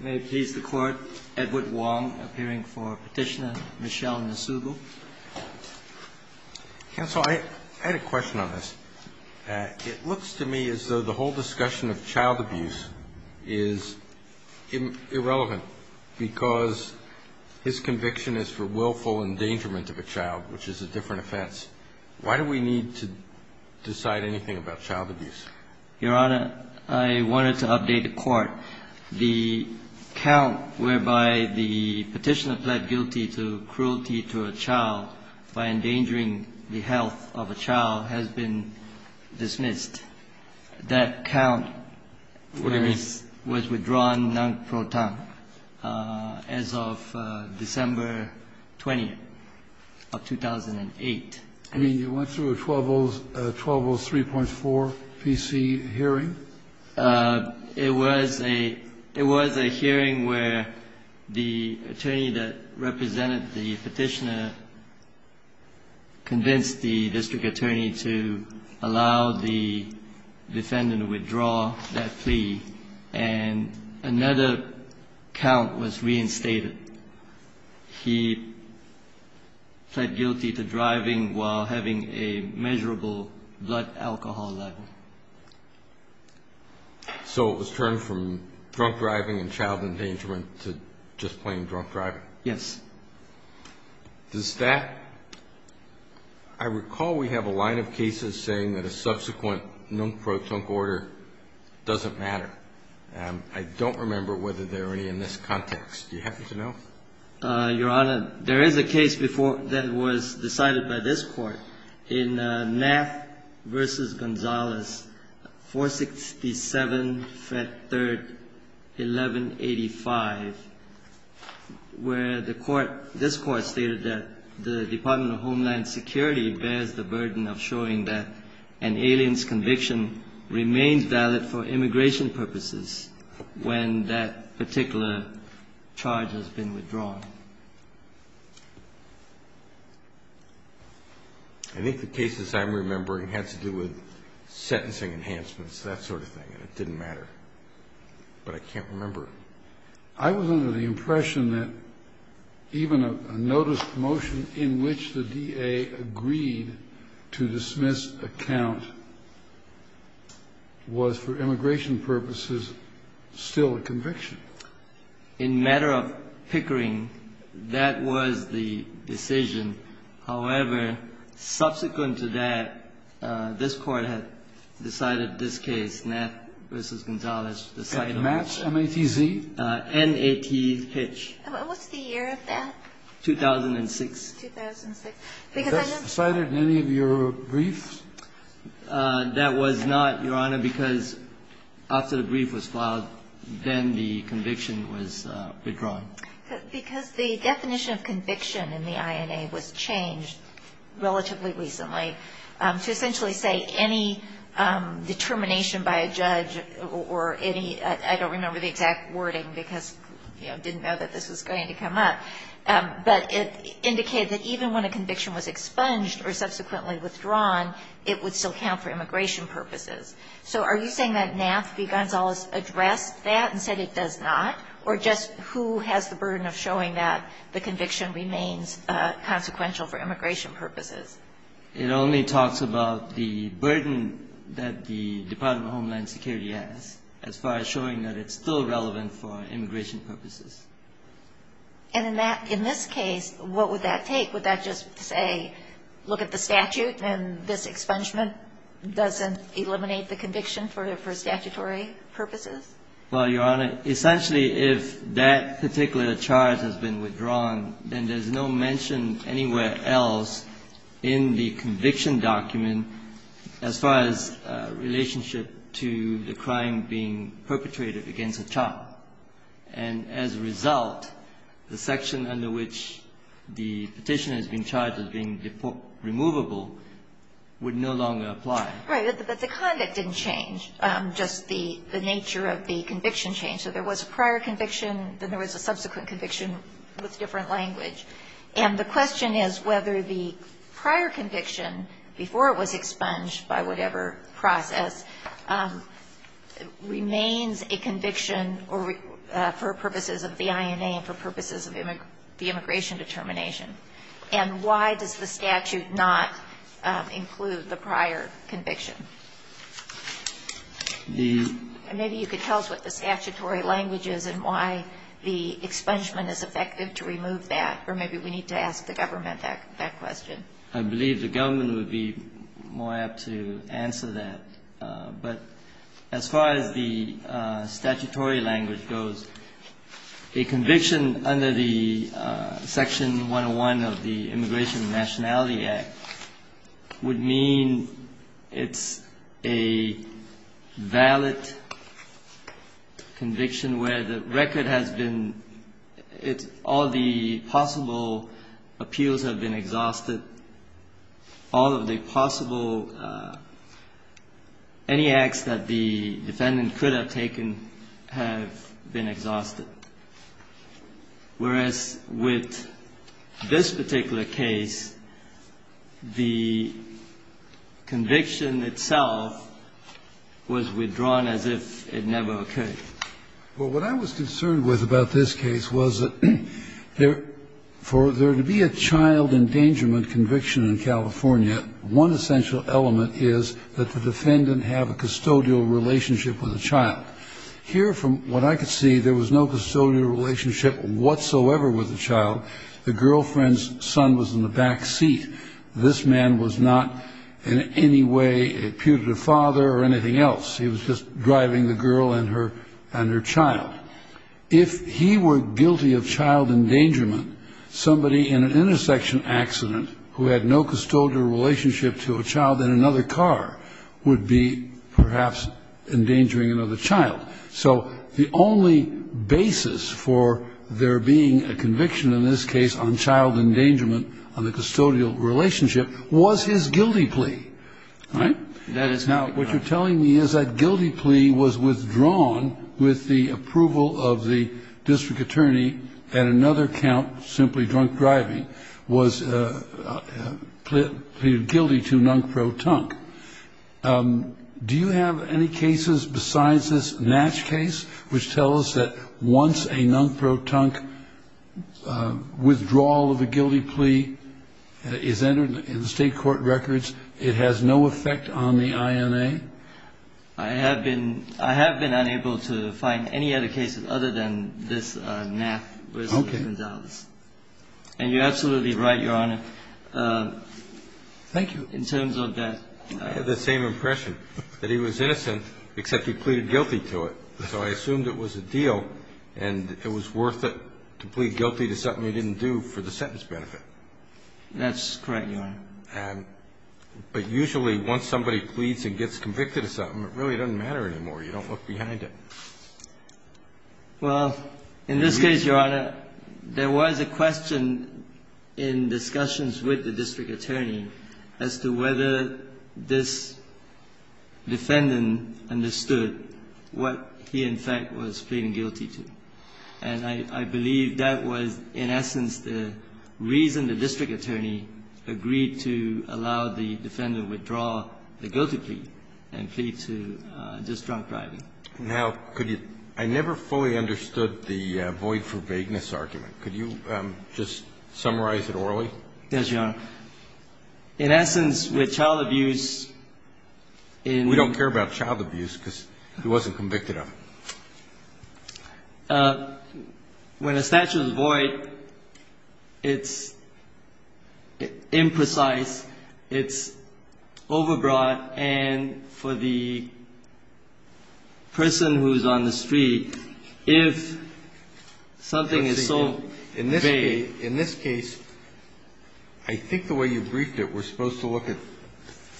May it please the Court, Edward Wong, appearing for Petitioner, Michelle Nasubo. Counsel, I had a question on this. It looks to me as though the whole discussion of child abuse is irrelevant because his conviction is for willful endangerment of a child, which is a different offense. Why do we need to decide anything about child abuse? Your Honor, I wanted to update the Court. The count whereby the Petitioner pled guilty to cruelty to a child by endangering the health of a child has been dismissed. That count was withdrawn non-pro tempore as of December 20th of 2008. I mean, you went through a 1203.4 PC hearing? It was a hearing where the attorney that represented the Petitioner convinced the district attorney to allow the defendant to withdraw that plea, and another count was reinstated. He pled guilty to driving while having a measurable blood alcohol level. So it was turned from drunk driving and child endangerment to just plain drunk driving? Yes. Does that... I recall we have a line of cases saying that a subsequent non-pro tempore doesn't matter. I don't remember whether there are any in this context. Do you happen to know? Your Honor, there is a case before that was decided by this Court in Knapp v. Gonzales, 467 F. 3rd, 1185, where the Court, this Court stated that the Department of Homeland Security bears the burden of showing that an alien's conviction remains valid for immigration purposes when that particular charge has been withdrawn. I think the cases I'm remembering had to do with sentencing enhancements, that sort of thing, and it didn't matter. But I can't remember. I was under the impression that even a notice motion in which the DA agreed to dismiss this account was, for immigration purposes, still a conviction. In matter of pickering, that was the decision. However, subsequent to that, this Court had decided this case, Knapp v. Gonzales, decided... Knapps, M-A-T-Z? N-A-T-H. What was the year of that? 2006. 2006. Because I know... Was that cited in any of your briefs? That was not, Your Honor, because after the brief was filed, then the conviction was withdrawn. Because the definition of conviction in the INA was changed relatively recently to essentially say any determination by a judge or any – I don't remember the exact wording because I didn't know that this was going to come up – but it indicated that even when a conviction was expunged or subsequently withdrawn, it would still count for immigration purposes. So are you saying that Knapp v. Gonzales addressed that and said it does not? Or just who has the burden of showing that the conviction remains consequential for immigration purposes? It only talks about the burden that the Department of Homeland Security has as far as showing that it's still relevant for immigration purposes. And in that – in this case, what would that take? Would that just say, look at the statute and this expungement doesn't eliminate the conviction for statutory purposes? Well, Your Honor, essentially if that particular charge has been withdrawn, then there's no mention anywhere else in the conviction document as far as relationship to the crime being perpetrated against a child. And as a result, the section under which the petitioner has been charged as being removable would no longer apply. Right. But the conduct didn't change. Just the nature of the conviction changed. So there was a prior conviction, then there was a subsequent conviction with different language. And the question is whether the prior conviction, before it was expunged by whatever process, remains a conviction for purposes of the INA and for purposes of the immigration determination. And why does the statute not include the prior conviction? The – And maybe you could tell us what the statutory language is and why the expungement is effective to remove that. Or maybe we need to ask the government that question. I believe the government would be more apt to answer that. But as far as the statutory language goes, a conviction under the Section 101 of the Immigration and Nationality Act would mean it's a valid conviction where the record has been – all the possible appeals have been exhausted. All of the possible – any acts that the defendant could have taken have been exhausted. Whereas with this particular case, the conviction itself was withdrawn as if it never occurred. Well, what I was concerned with about this case was that for there to be a child endangerment conviction in California, one essential element is that the defendant have a custodial relationship with the child. Here, from what I could see, there was no custodial relationship whatsoever with the child. The girlfriend's son was in the back seat. This man was not in any way a putative father or anything else. He was just driving the girl and her child. If he were guilty of child endangerment, somebody in an intersection accident who had no custodial relationship to a child in another car would be perhaps endangering another child. So the only basis for there being a conviction in this case on child endangerment on the custodial relationship was his guilty plea. Right? Now, what you're telling me is that guilty plea was withdrawn with the approval of the district attorney at another count, simply drunk driving, was pleaded guilty to nunk pro-tunk. Do you have any cases besides this Natch case which tell us that once a nunk pro-tunk withdrawal of a guilty plea is entered in the state court records, it has no effect on the INA? I have been unable to find any other cases other than this Natch. Okay. And you're absolutely right, Your Honor. Thank you. In terms of that. I had the same impression, that he was innocent except he pleaded guilty to it. So I assumed it was a deal and it was worth it to plead guilty to something he didn't do for the sentence benefit. That's correct, Your Honor. But usually once somebody pleads and gets convicted of something, it really doesn't matter anymore. You don't look behind it. Well, in this case, Your Honor, there was a question in discussions with the district attorney as to whether this defendant understood what he, in fact, was pleading guilty to. And I believe that was in essence the reason the district attorney agreed to allow the defendant withdraw the guilty plea and plead to just drunk driving. Now, could you – I never fully understood the void for vagueness argument. Could you just summarize it orally? Yes, Your Honor. In essence, with child abuse in – We don't care about child abuse because he wasn't convicted of it. When a statute is void, it's imprecise, it's overbroad, and for the person who's on the street, if something is so vague – In this case, I think the way you briefed it, we're supposed to look at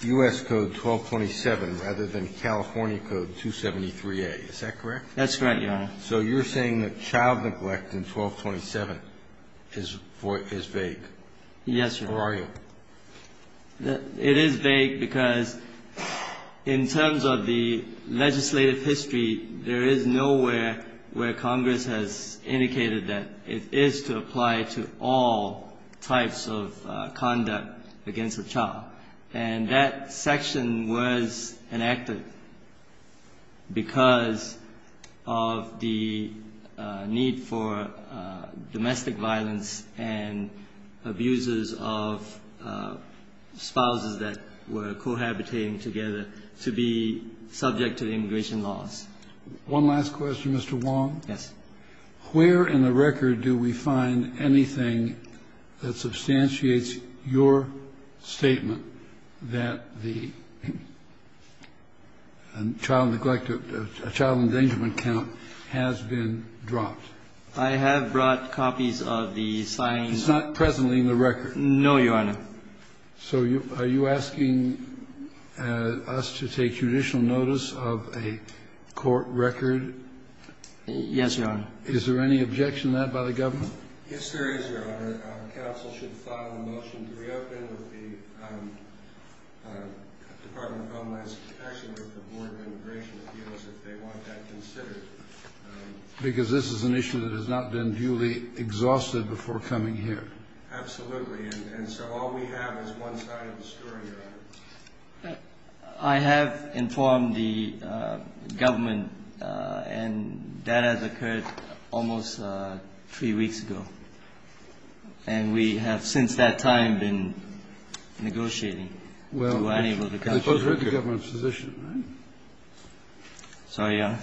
U.S. Code 1227 rather than California Code 273A. Is that correct? That's correct, Your Honor. So you're saying that child neglect in 1227 is vague. Yes, Your Honor. Or are you? It is vague because in terms of the legislative history, there is nowhere where Congress has indicated that it is to apply to all types of conduct against a child. And that section was enacted because of the need for domestic violence and abusers of spouses that were cohabitating together to be subject to immigration laws. One last question, Mr. Wong. Yes. Where in the record do we find anything that substantiates your statement that the child neglect – child endangerment count has been dropped? I have brought copies of the signed – It's not presently in the record. No, Your Honor. So are you asking us to take judicial notice of a court record? Yes, Your Honor. Is there any objection to that by the government? Yes, there is, Your Honor. Council should file a motion to reopen with the Department of Homeland Security with the Board of Immigration Appeals if they want that considered. Because this is an issue that has not been duly exhausted before coming here. Absolutely. And so all we have is one side of the story, Your Honor. I have informed the government, and that has occurred almost three weeks ago. And we have since that time been negotiating. Well, I suppose you're the government's physician, right? Sorry, Your Honor.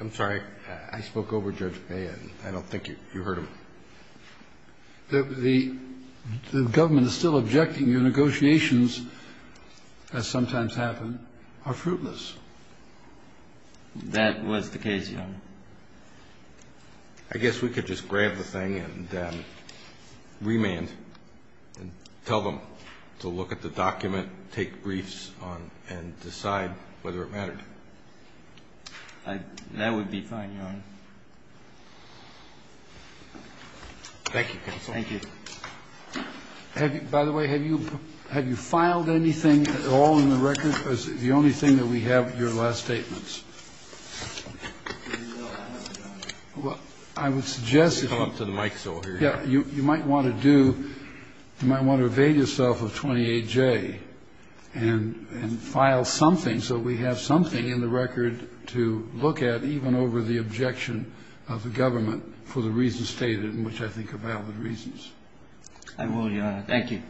I'm sorry. I spoke over Judge Payne. I don't think you heard him. The government is still objecting. Your negotiations, as sometimes happen, are fruitless. That was the case, Your Honor. I guess we could just grab the thing and remand and tell them to look at the document, take briefs on it, and decide whether it mattered. That would be fine, Your Honor. Thank you, Counsel. Thank you. By the way, have you filed anything at all in the record? The only thing that we have are your last statements. No, I haven't, Your Honor. Well, I would suggest that you might want to do you might want to evade yourself of 28J and file something so we have something in the record to look at, even over the objection of the government for the reasons stated, which I think are valid reasons. I will, Your Honor. Thank you.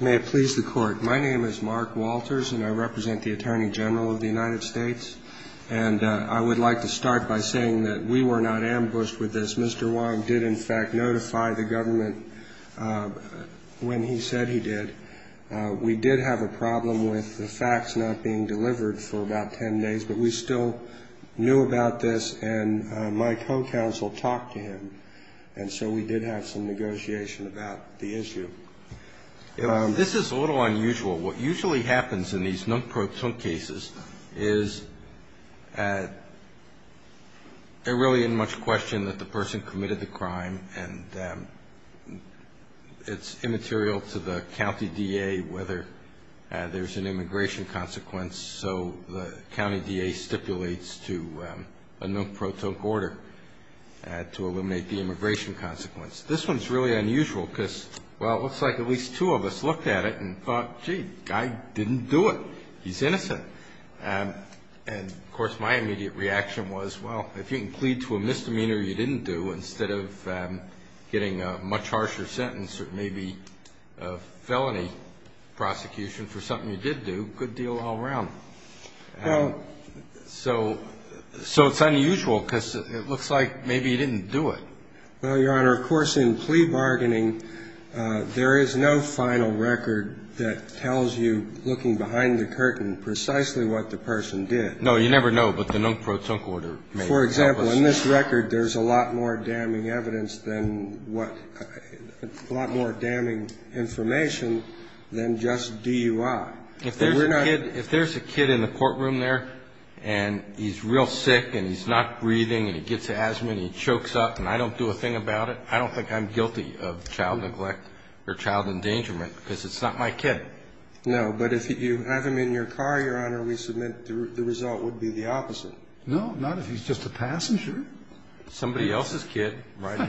May it please the Court. My name is Mark Walters, and I represent the Attorney General of the United States. And I would like to start by saying that we were not ambushed with this. Mr. Wong did, in fact, notify the government when he said he did. We did have a problem with the facts not being delivered for about 10 days, but we still knew about this, and my co-counsel talked to him. And so we did have some negotiation about the issue. This is a little unusual. What usually happens in these non-proton cases is there really isn't much question that the person committed the crime, and it's immaterial to the county DA whether there's an immigration consequence. So the county DA stipulates to a non-proton order to eliminate the immigration consequence. This one's really unusual because, well, it looks like at least two of us looked at it and thought, gee, the guy didn't do it. He's innocent. And, of course, my immediate reaction was, well, if you can plead to a misdemeanor you didn't do instead of getting a much harsher sentence or maybe a felony prosecution for something you did do, good deal all around. So it's unusual because it looks like maybe he didn't do it. Well, Your Honor, of course, in plea bargaining, there is no final record that tells you looking behind the curtain precisely what the person did. No, you never know, but the non-proton order may help us. For example, in this record there's a lot more damning evidence than what – a lot more damning information than just DUI. If there's a kid in the courtroom there and he's real sick and he's not breathing and he gets asthma and he chokes up and I don't do a thing about it, I don't think I'm guilty of child neglect or child endangerment because it's not my kid. No, but if you have him in your car, Your Honor, we submit the result would be the opposite. No, not if he's just a passenger. Somebody else's kid. But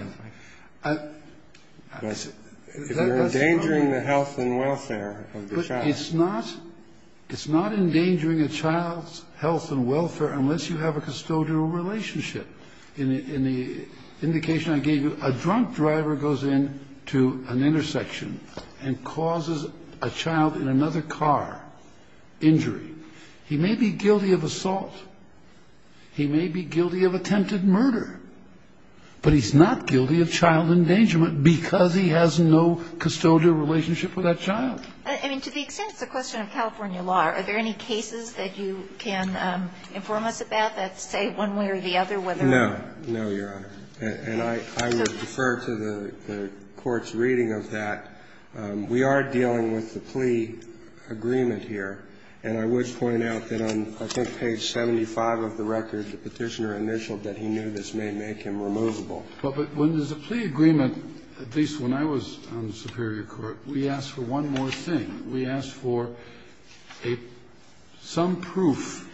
if you're endangering the health and welfare of the child. But it's not – it's not endangering a child's health and welfare unless you have a custodial relationship. In the indication I gave you, a drunk driver goes into an intersection and causes a child in another car injury. He may be guilty of assault. He may be guilty of attempted murder. But he's not guilty of child endangerment because he has no custodial relationship with that child. I mean, to the extent it's a question of California law, are there any cases that you can inform us about that say one way or the other No. No, Your Honor. And I would defer to the Court's reading of that. We are dealing with the plea agreement here. And I would point out that on, I think, page 75 of the record, the Petitioner initialed that he knew this may make him removable. But when there's a plea agreement, at least when I was on the superior court, we asked for one more thing. We asked for a – some proof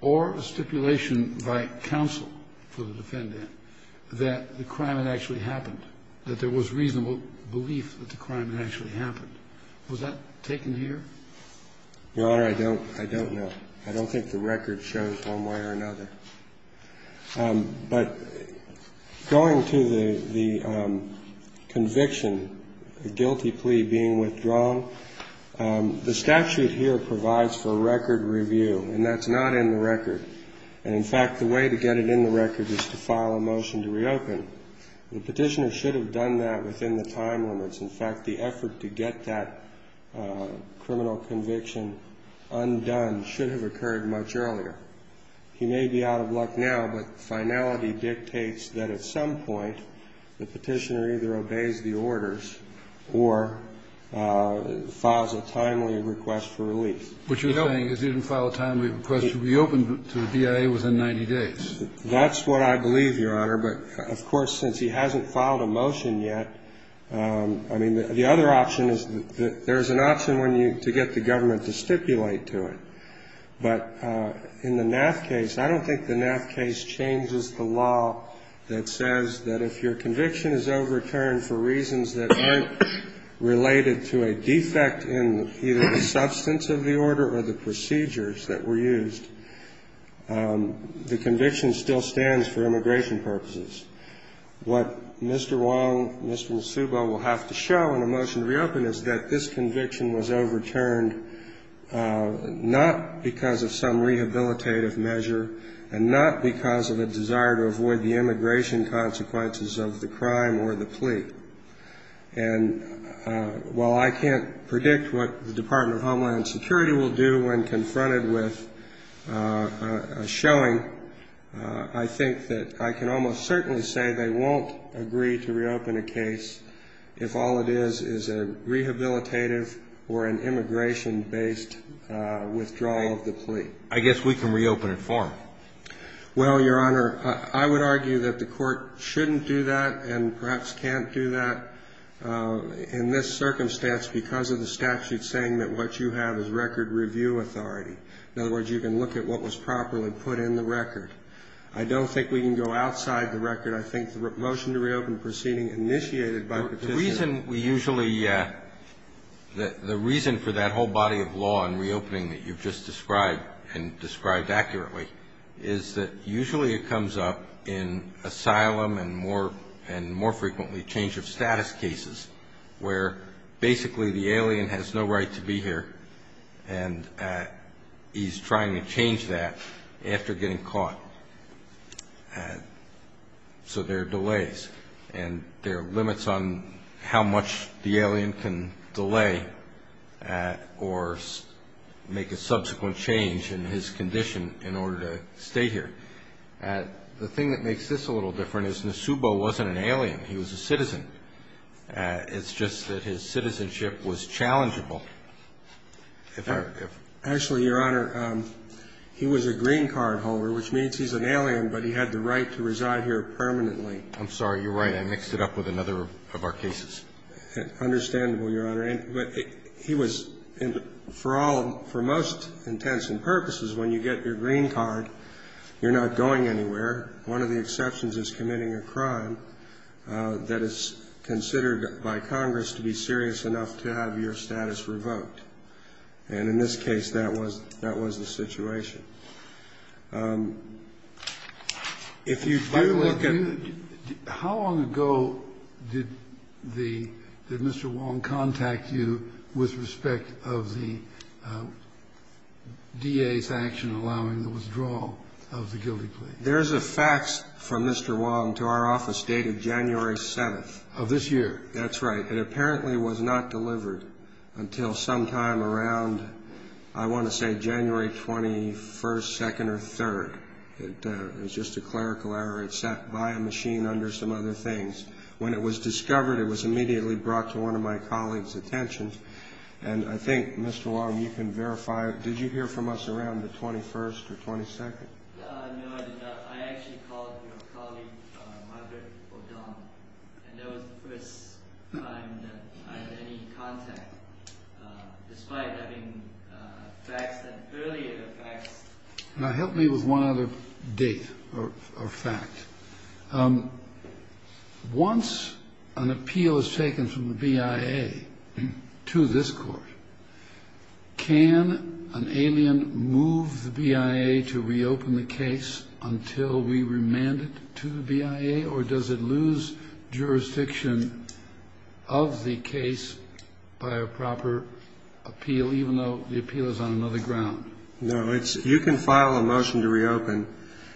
or a stipulation by counsel for the defendant that the crime had actually happened, that there was reasonable belief that the crime had actually happened. Was that taken here? Your Honor, I don't – I don't know. I don't think the record shows one way or another. But going to the conviction, the guilty plea being withdrawn, the statute here provides for record review. And that's not in the record. And, in fact, the way to get it in the record is to file a motion to reopen. The Petitioner should have done that within the time limits. In fact, the effort to get that criminal conviction undone should have occurred much earlier. He may be out of luck now, but finality dictates that at some point the Petitioner either obeys the orders or files a timely request for relief. You know? What you're saying is he didn't file a timely request to reopen to the DIA within 90 days. That's what I believe, Your Honor. But, of course, since he hasn't filed a motion yet, I mean, the other option is there is an option to get the government to stipulate to it. But in the NAAF case, I don't think the NAAF case changes the law that says that if your conviction is overturned for reasons that aren't related to a defect in either the substance of the order or the procedures that were used, the conviction still stands for immigration purposes. What Mr. Wong, Mr. Musubo will have to show in a motion to reopen is that this conviction was overturned not because of some rehabilitative measure and not because of a desire to avoid the immigration consequences of the crime or the plea. And while I can't predict what the Department of Homeland Security will do when confronted with a showing, I think that I can almost certainly say they won't agree to reopen a case if all it is is a rehabilitative or an immigration-based withdrawal of the plea. I guess we can reopen it for him. Well, Your Honor, I would argue that the court shouldn't do that and perhaps can't do that in this circumstance because of the statute saying that what you have is record review authority. In other words, you can look at what was properly put in the record. I don't think we can go outside the record. I think the motion to reopen proceeding initiated by Petitioner. The reason we usually the reason for that whole body of law and reopening that you've just described and described accurately is that usually it comes up in asylum and more frequently change of status cases where basically the alien has no right to be here and he's trying to change that after getting caught. So there are delays and there are limits on how much the alien can delay or make a subsequent change in his condition in order to stay here. The thing that makes this a little different is Nasubo wasn't an alien. He was a citizen. It's just that his citizenship was challengeable. Actually, Your Honor, he was a green card holder, which means he's an alien, but he had the right to reside here permanently. I'm sorry. You're right. I mixed it up with another of our cases. Understandable, Your Honor. He was for all for most intents and purposes when you get your green card, you're not going anywhere. One of the exceptions is committing a crime that is considered by Congress to be serious enough to have your status revoked. And in this case, that was the situation. If you do look at the ---- By the way, how long ago did Mr. Wong contact you with respect of the DA's action allowing the withdrawal of the guilty plea? There's a fax from Mr. Wong to our office dated January 7th. Of this year. That's right. It apparently was not delivered until sometime around, I want to say, January 21st, 2nd, or 3rd. It was just a clerical error. It sat by a machine under some other things. When it was discovered, it was immediately brought to one of my colleagues' attention. And I think, Mr. Wong, you can verify it. Did you hear from us around the 21st or 22nd? No, I did not. I actually called your colleague, Margaret O'Donnell, and that was the first time that I had any contact, despite having faxed an earlier fax. Help me with one other date or fact. Once an appeal is taken from the BIA to this court, can an alien move the BIA to reopen the case until we remand it to the BIA, or does it lose jurisdiction of the case by a proper appeal, even though the appeal is on another ground? No, you can file a motion to reopen,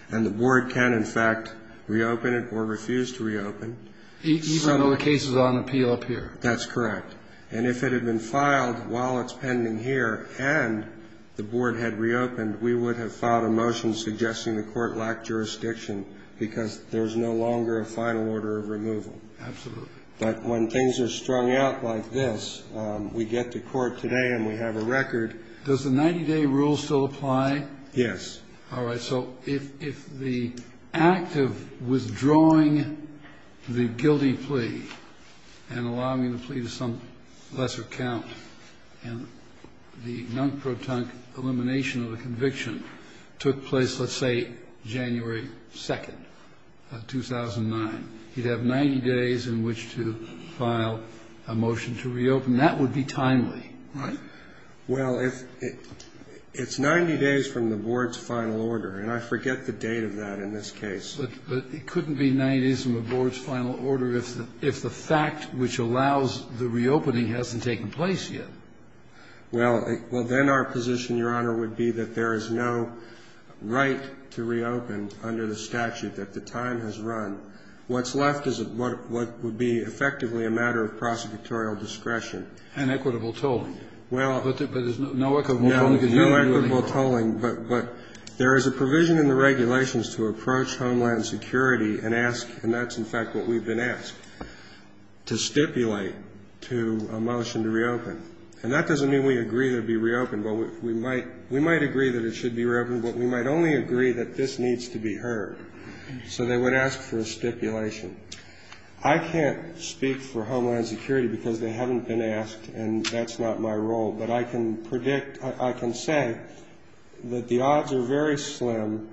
and the board can, in fact, reopen it or refuse to reopen. Even though the case is on appeal up here? That's correct. And if it had been filed while it's pending here and the board had reopened, we would have filed a motion suggesting the court lacked jurisdiction because there's no longer a final order of removal. Absolutely. But when things are strung out like this, we get to court today and we have a record. Does the 90-day rule still apply? Yes. All right. So if the act of withdrawing the guilty plea and allowing the plea to some lesser count and the non-protonic elimination of the conviction took place, let's say, January 2nd, 2009, you'd have 90 days in which to file a motion to reopen. That would be timely, right? Well, it's 90 days from the board's final order, and I forget the date of that in this case. But it couldn't be 90 days from the board's final order if the fact which allows the reopening hasn't taken place yet. Well, then our position, Your Honor, would be that there is no right to reopen under the statute that the time has run. What's left is what would be effectively a matter of prosecutorial discretion. And equitable tolling. Well, no equitable tolling, but there is a provision in the regulations to approach Homeland Security and ask, and that's in fact what we've been asked, to stipulate to a motion to reopen. And that doesn't mean we agree that it would be reopened, but we might agree that it should be reopened, but we might only agree that this needs to be heard. So they would ask for a stipulation. I can't speak for Homeland Security because they haven't been asked, and that's not my role. But I can predict, I can say that the odds are very slim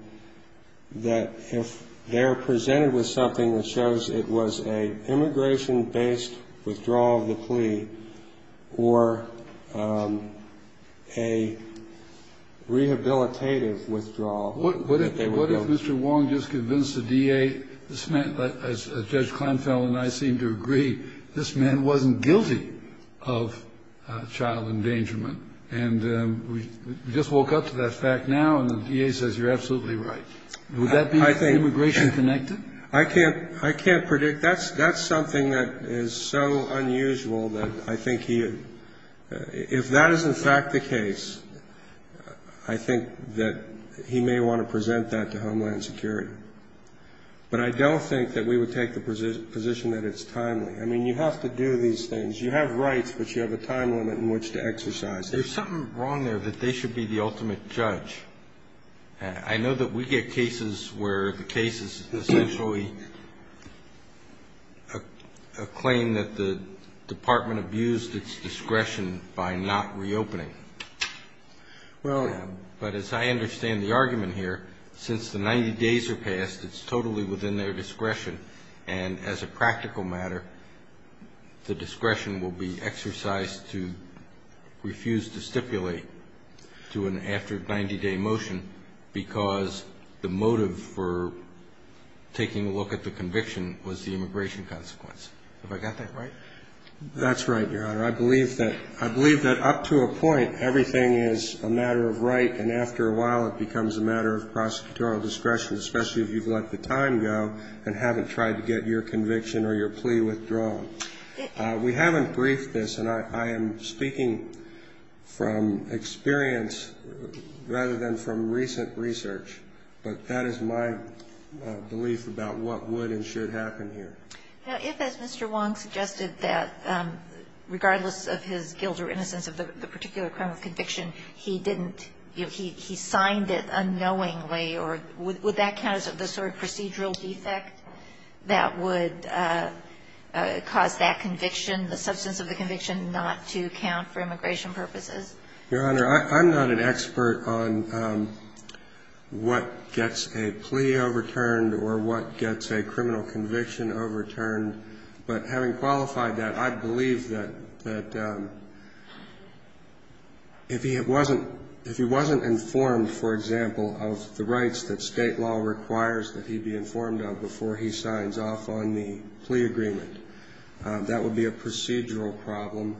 that if they're presented with something that shows it was an immigration-based withdrawal of the plea or a rehabilitative withdrawal. What if Mr. Wong just convinced the DA, this man, as Judge Kleinfeld and I seem to agree, this man wasn't guilty of child endangerment. And we just woke up to that fact now, and the DA says you're absolutely right. Would that be immigration-connected? I can't predict. That's something that is so unusual that I think he had, if that is in fact the case, I think that he may want to present that to Homeland Security. But I don't think that we would take the position that it's timely. I mean, you have to do these things. You have rights, but you have a time limit in which to exercise them. There's something wrong there that they should be the ultimate judge. I know that we get cases where the case is essentially a claim that the department abused its discretion by not reopening. But as I understand the argument here, since the 90 days are passed, it's totally within their discretion, and as a practical matter, the discretion will be exercised to refuse to stipulate to an after-90-day motion, because the motive for taking a look at the conviction was the immigration consequence. Have I got that right? That's right, Your Honor. I believe that up to a point, everything is a matter of right, and after a while, it becomes a matter of prosecutorial discretion, especially if you've let the time go and haven't tried to get your conviction or your plea withdrawn. We haven't briefed this, and I am speaking from experience rather than from recent research, but that is my belief about what would and should happen here. Now, if, as Mr. Wong suggested, that regardless of his guilt or innocence of the particular crime of conviction, he didn't, you know, he signed it unknowingly, would that count as the sort of procedural defect that would cause that conviction, the substance of the conviction, not to count for immigration purposes? Your Honor, I'm not an expert on what gets a plea overturned or what gets a criminal conviction overturned, but having qualified that, I believe that if he wasn't informed, for example, of the rights that state law requires that he be informed of before he signs off on the plea agreement, that would be a procedural problem.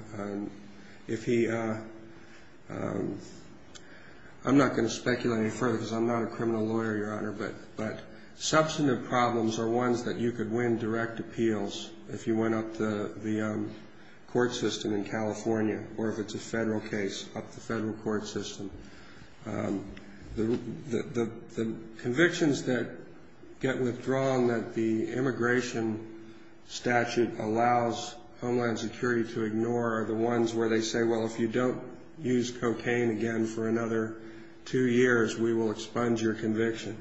I'm not going to speculate any further because I'm not a criminal lawyer, Your Honor, but substantive problems are ones that you could win direct appeals if you went up the court system in California or if it's a federal case, up the federal court system. The convictions that get withdrawn that the immigration statute allows Homeland Security to ignore are the ones where they say, well, if you don't use cocaine again for another two years, we will expunge your conviction.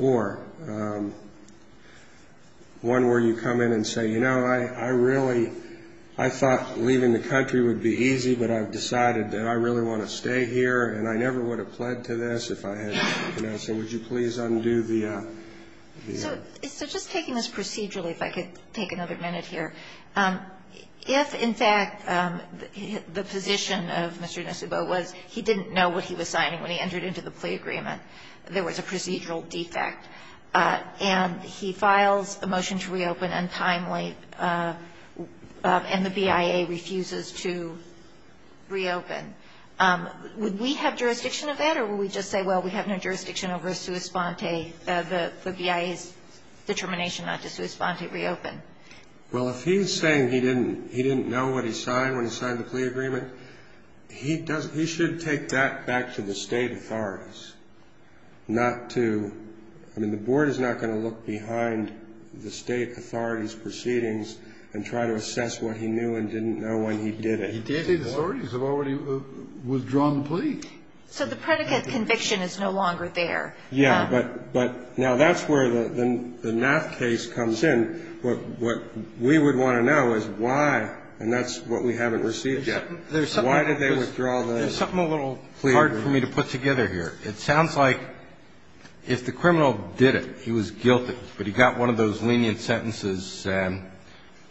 Or one where you come in and say, you know, I really, I thought leaving the country would be easy, but I've decided that I really want to stay here and I never would have pled to this if I had, you know, so would you please undo the ---- So just taking this procedurally, if I could take another minute here, if, in fact, the position of Mr. Nsubo was he didn't know what he was signing when he entered into the plea agreement, there was a procedural defect, and he files a motion to reopen untimely, and the BIA refuses to reopen, would we have jurisdiction of that or would we just say, well, we have no jurisdiction over a sua sponte, the BIA's determination not to sua sponte reopen? Well, if he's saying he didn't know what he signed when he signed the plea agreement, he should take that back to the state authorities, not to, I mean, the board is not going to look behind the state authorities' proceedings and try to assess what he knew and didn't know when he did it. The state authorities have already withdrawn the plea. So the predicate conviction is no longer there. Yeah, but now that's where the not case comes in. What we would want to know is why, and that's what we haven't received yet, why did they withdraw the plea agreement? There's something a little hard for me to put together here. It sounds like if the criminal did it, he was guilty, but he got one of those lenient sentences,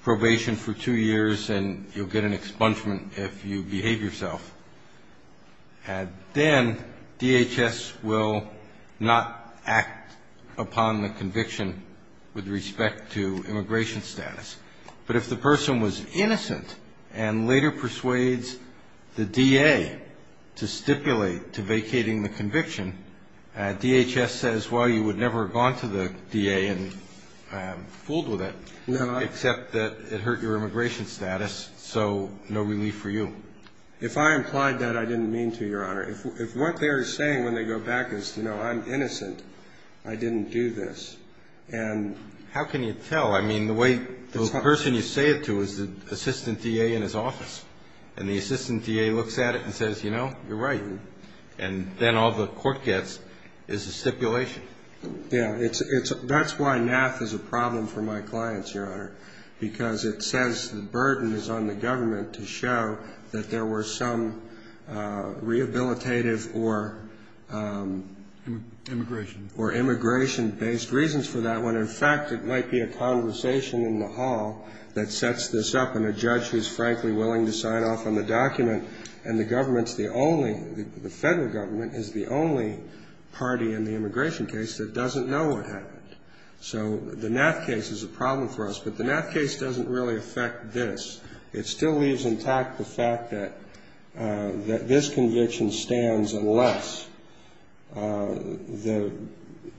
probation for two years, and you'll get an expungement if you behave yourself. Then DHS will not act upon the conviction with respect to immigration status. But if the person was innocent and later persuades the DA to stipulate to vacating the conviction, DHS says, well, you would never have gone to the DA and fooled with it, except that it hurt your immigration status, so no relief for you. If I implied that, I didn't mean to, Your Honor. If what they're saying when they go back is, you know, I'm innocent, I didn't do this. And how can you tell? I mean, the way the person you say it to is the assistant DA in his office, and the assistant DA looks at it and says, you know, you're right. And then all the court gets is a stipulation. Yeah, that's why NAF is a problem for my clients, Your Honor, because it says the burden is on the government to show that there were some rehabilitative or immigration-based reasons for that. When, in fact, it might be a conversation in the hall that sets this up, and a judge who's frankly willing to sign off on the document, and the government's the only, the Federal Government is the only party in the immigration case that doesn't know what happened. So the NAF case is a problem for us, but the NAF case doesn't really affect this. It still leaves intact the fact that this conviction stands unless the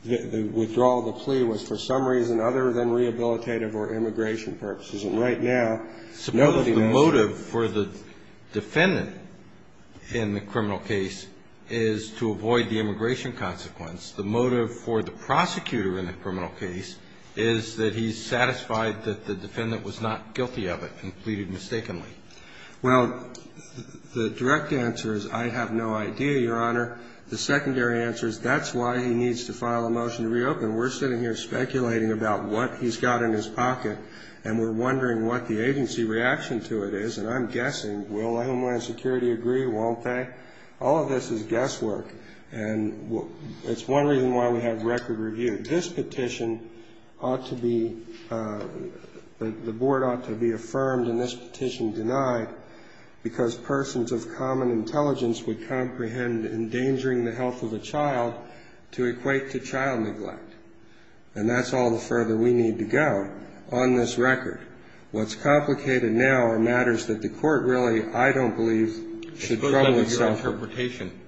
withdrawal of the plea was, for some reason, other than rehabilitative or immigration purposes. And right now, the motive for the defendant in the criminal case is to avoid the immigration consequence. The motive for the prosecutor in the criminal case is that he's satisfied that the defendant was not guilty of it and pleaded mistakenly. Well, the direct answer is I have no idea, Your Honor. The secondary answer is that's why he needs to file a motion to reopen. We're sitting here speculating about what he's got in his pocket, and we're wondering what the agency reaction to it is, and I'm guessing, will Homeland Security agree, won't they? All of this is guesswork. And it's one reason why we have record review. This petition ought to be the board ought to be affirmed, and this petition denied, because persons of common intelligence would comprehend endangering the health of a child to equate to child neglect. And that's all the further we need to go on this record. What's complicated now are matters that the court really, I don't believe, should trouble itself. In my interpretation,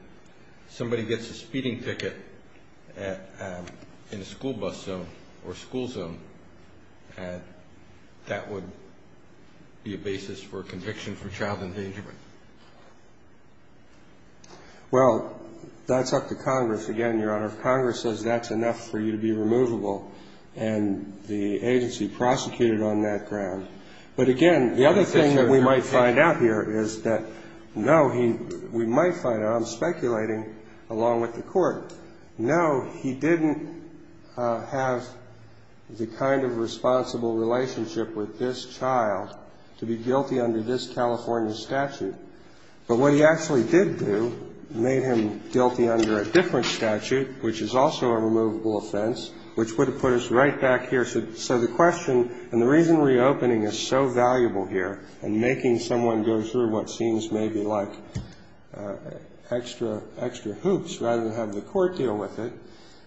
somebody gets a speeding ticket in a school bus zone or school zone, and that would be a basis for conviction for child endangerment. Well, that's up to Congress. Again, Your Honor, if Congress says that's enough for you to be removable, and the agency prosecuted on that ground. But again, the other thing that we might find out here is that, no, we might find out, I'm speculating along with the court, no, he didn't have the kind of responsible relationship with this child to be guilty under this California statute. But what he actually did do made him guilty under a different statute, which is also a removable offense, which would have put us right back here. So the question and the reason reopening is so valuable here and making someone go through what seems maybe like extra hoops rather than have the court deal with it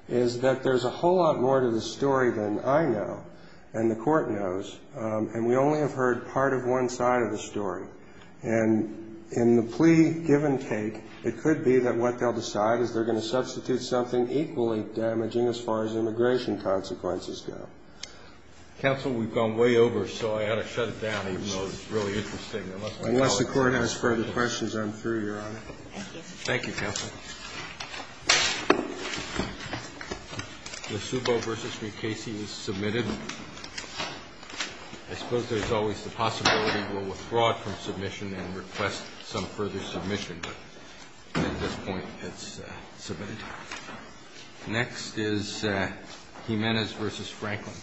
is that there's a whole lot more to the story than I know and the court knows, and we only have heard part of one side of the story. And in the plea give and take, it could be that what they'll decide is they're going to substitute something equally damaging as far as immigration consequences go. Roberts. Counsel, we've gone way over, so I ought to shut it down, even though it's really interesting. Unless the Court has further questions, I'm through, Your Honor. Thank you. Thank you, Counsel. The Subo v. McCasey is submitted. I suppose there's always the possibility we'll withdraw it from submission and request some further submission, but at this point it's submitted. Next is Jimenez v. Franklin.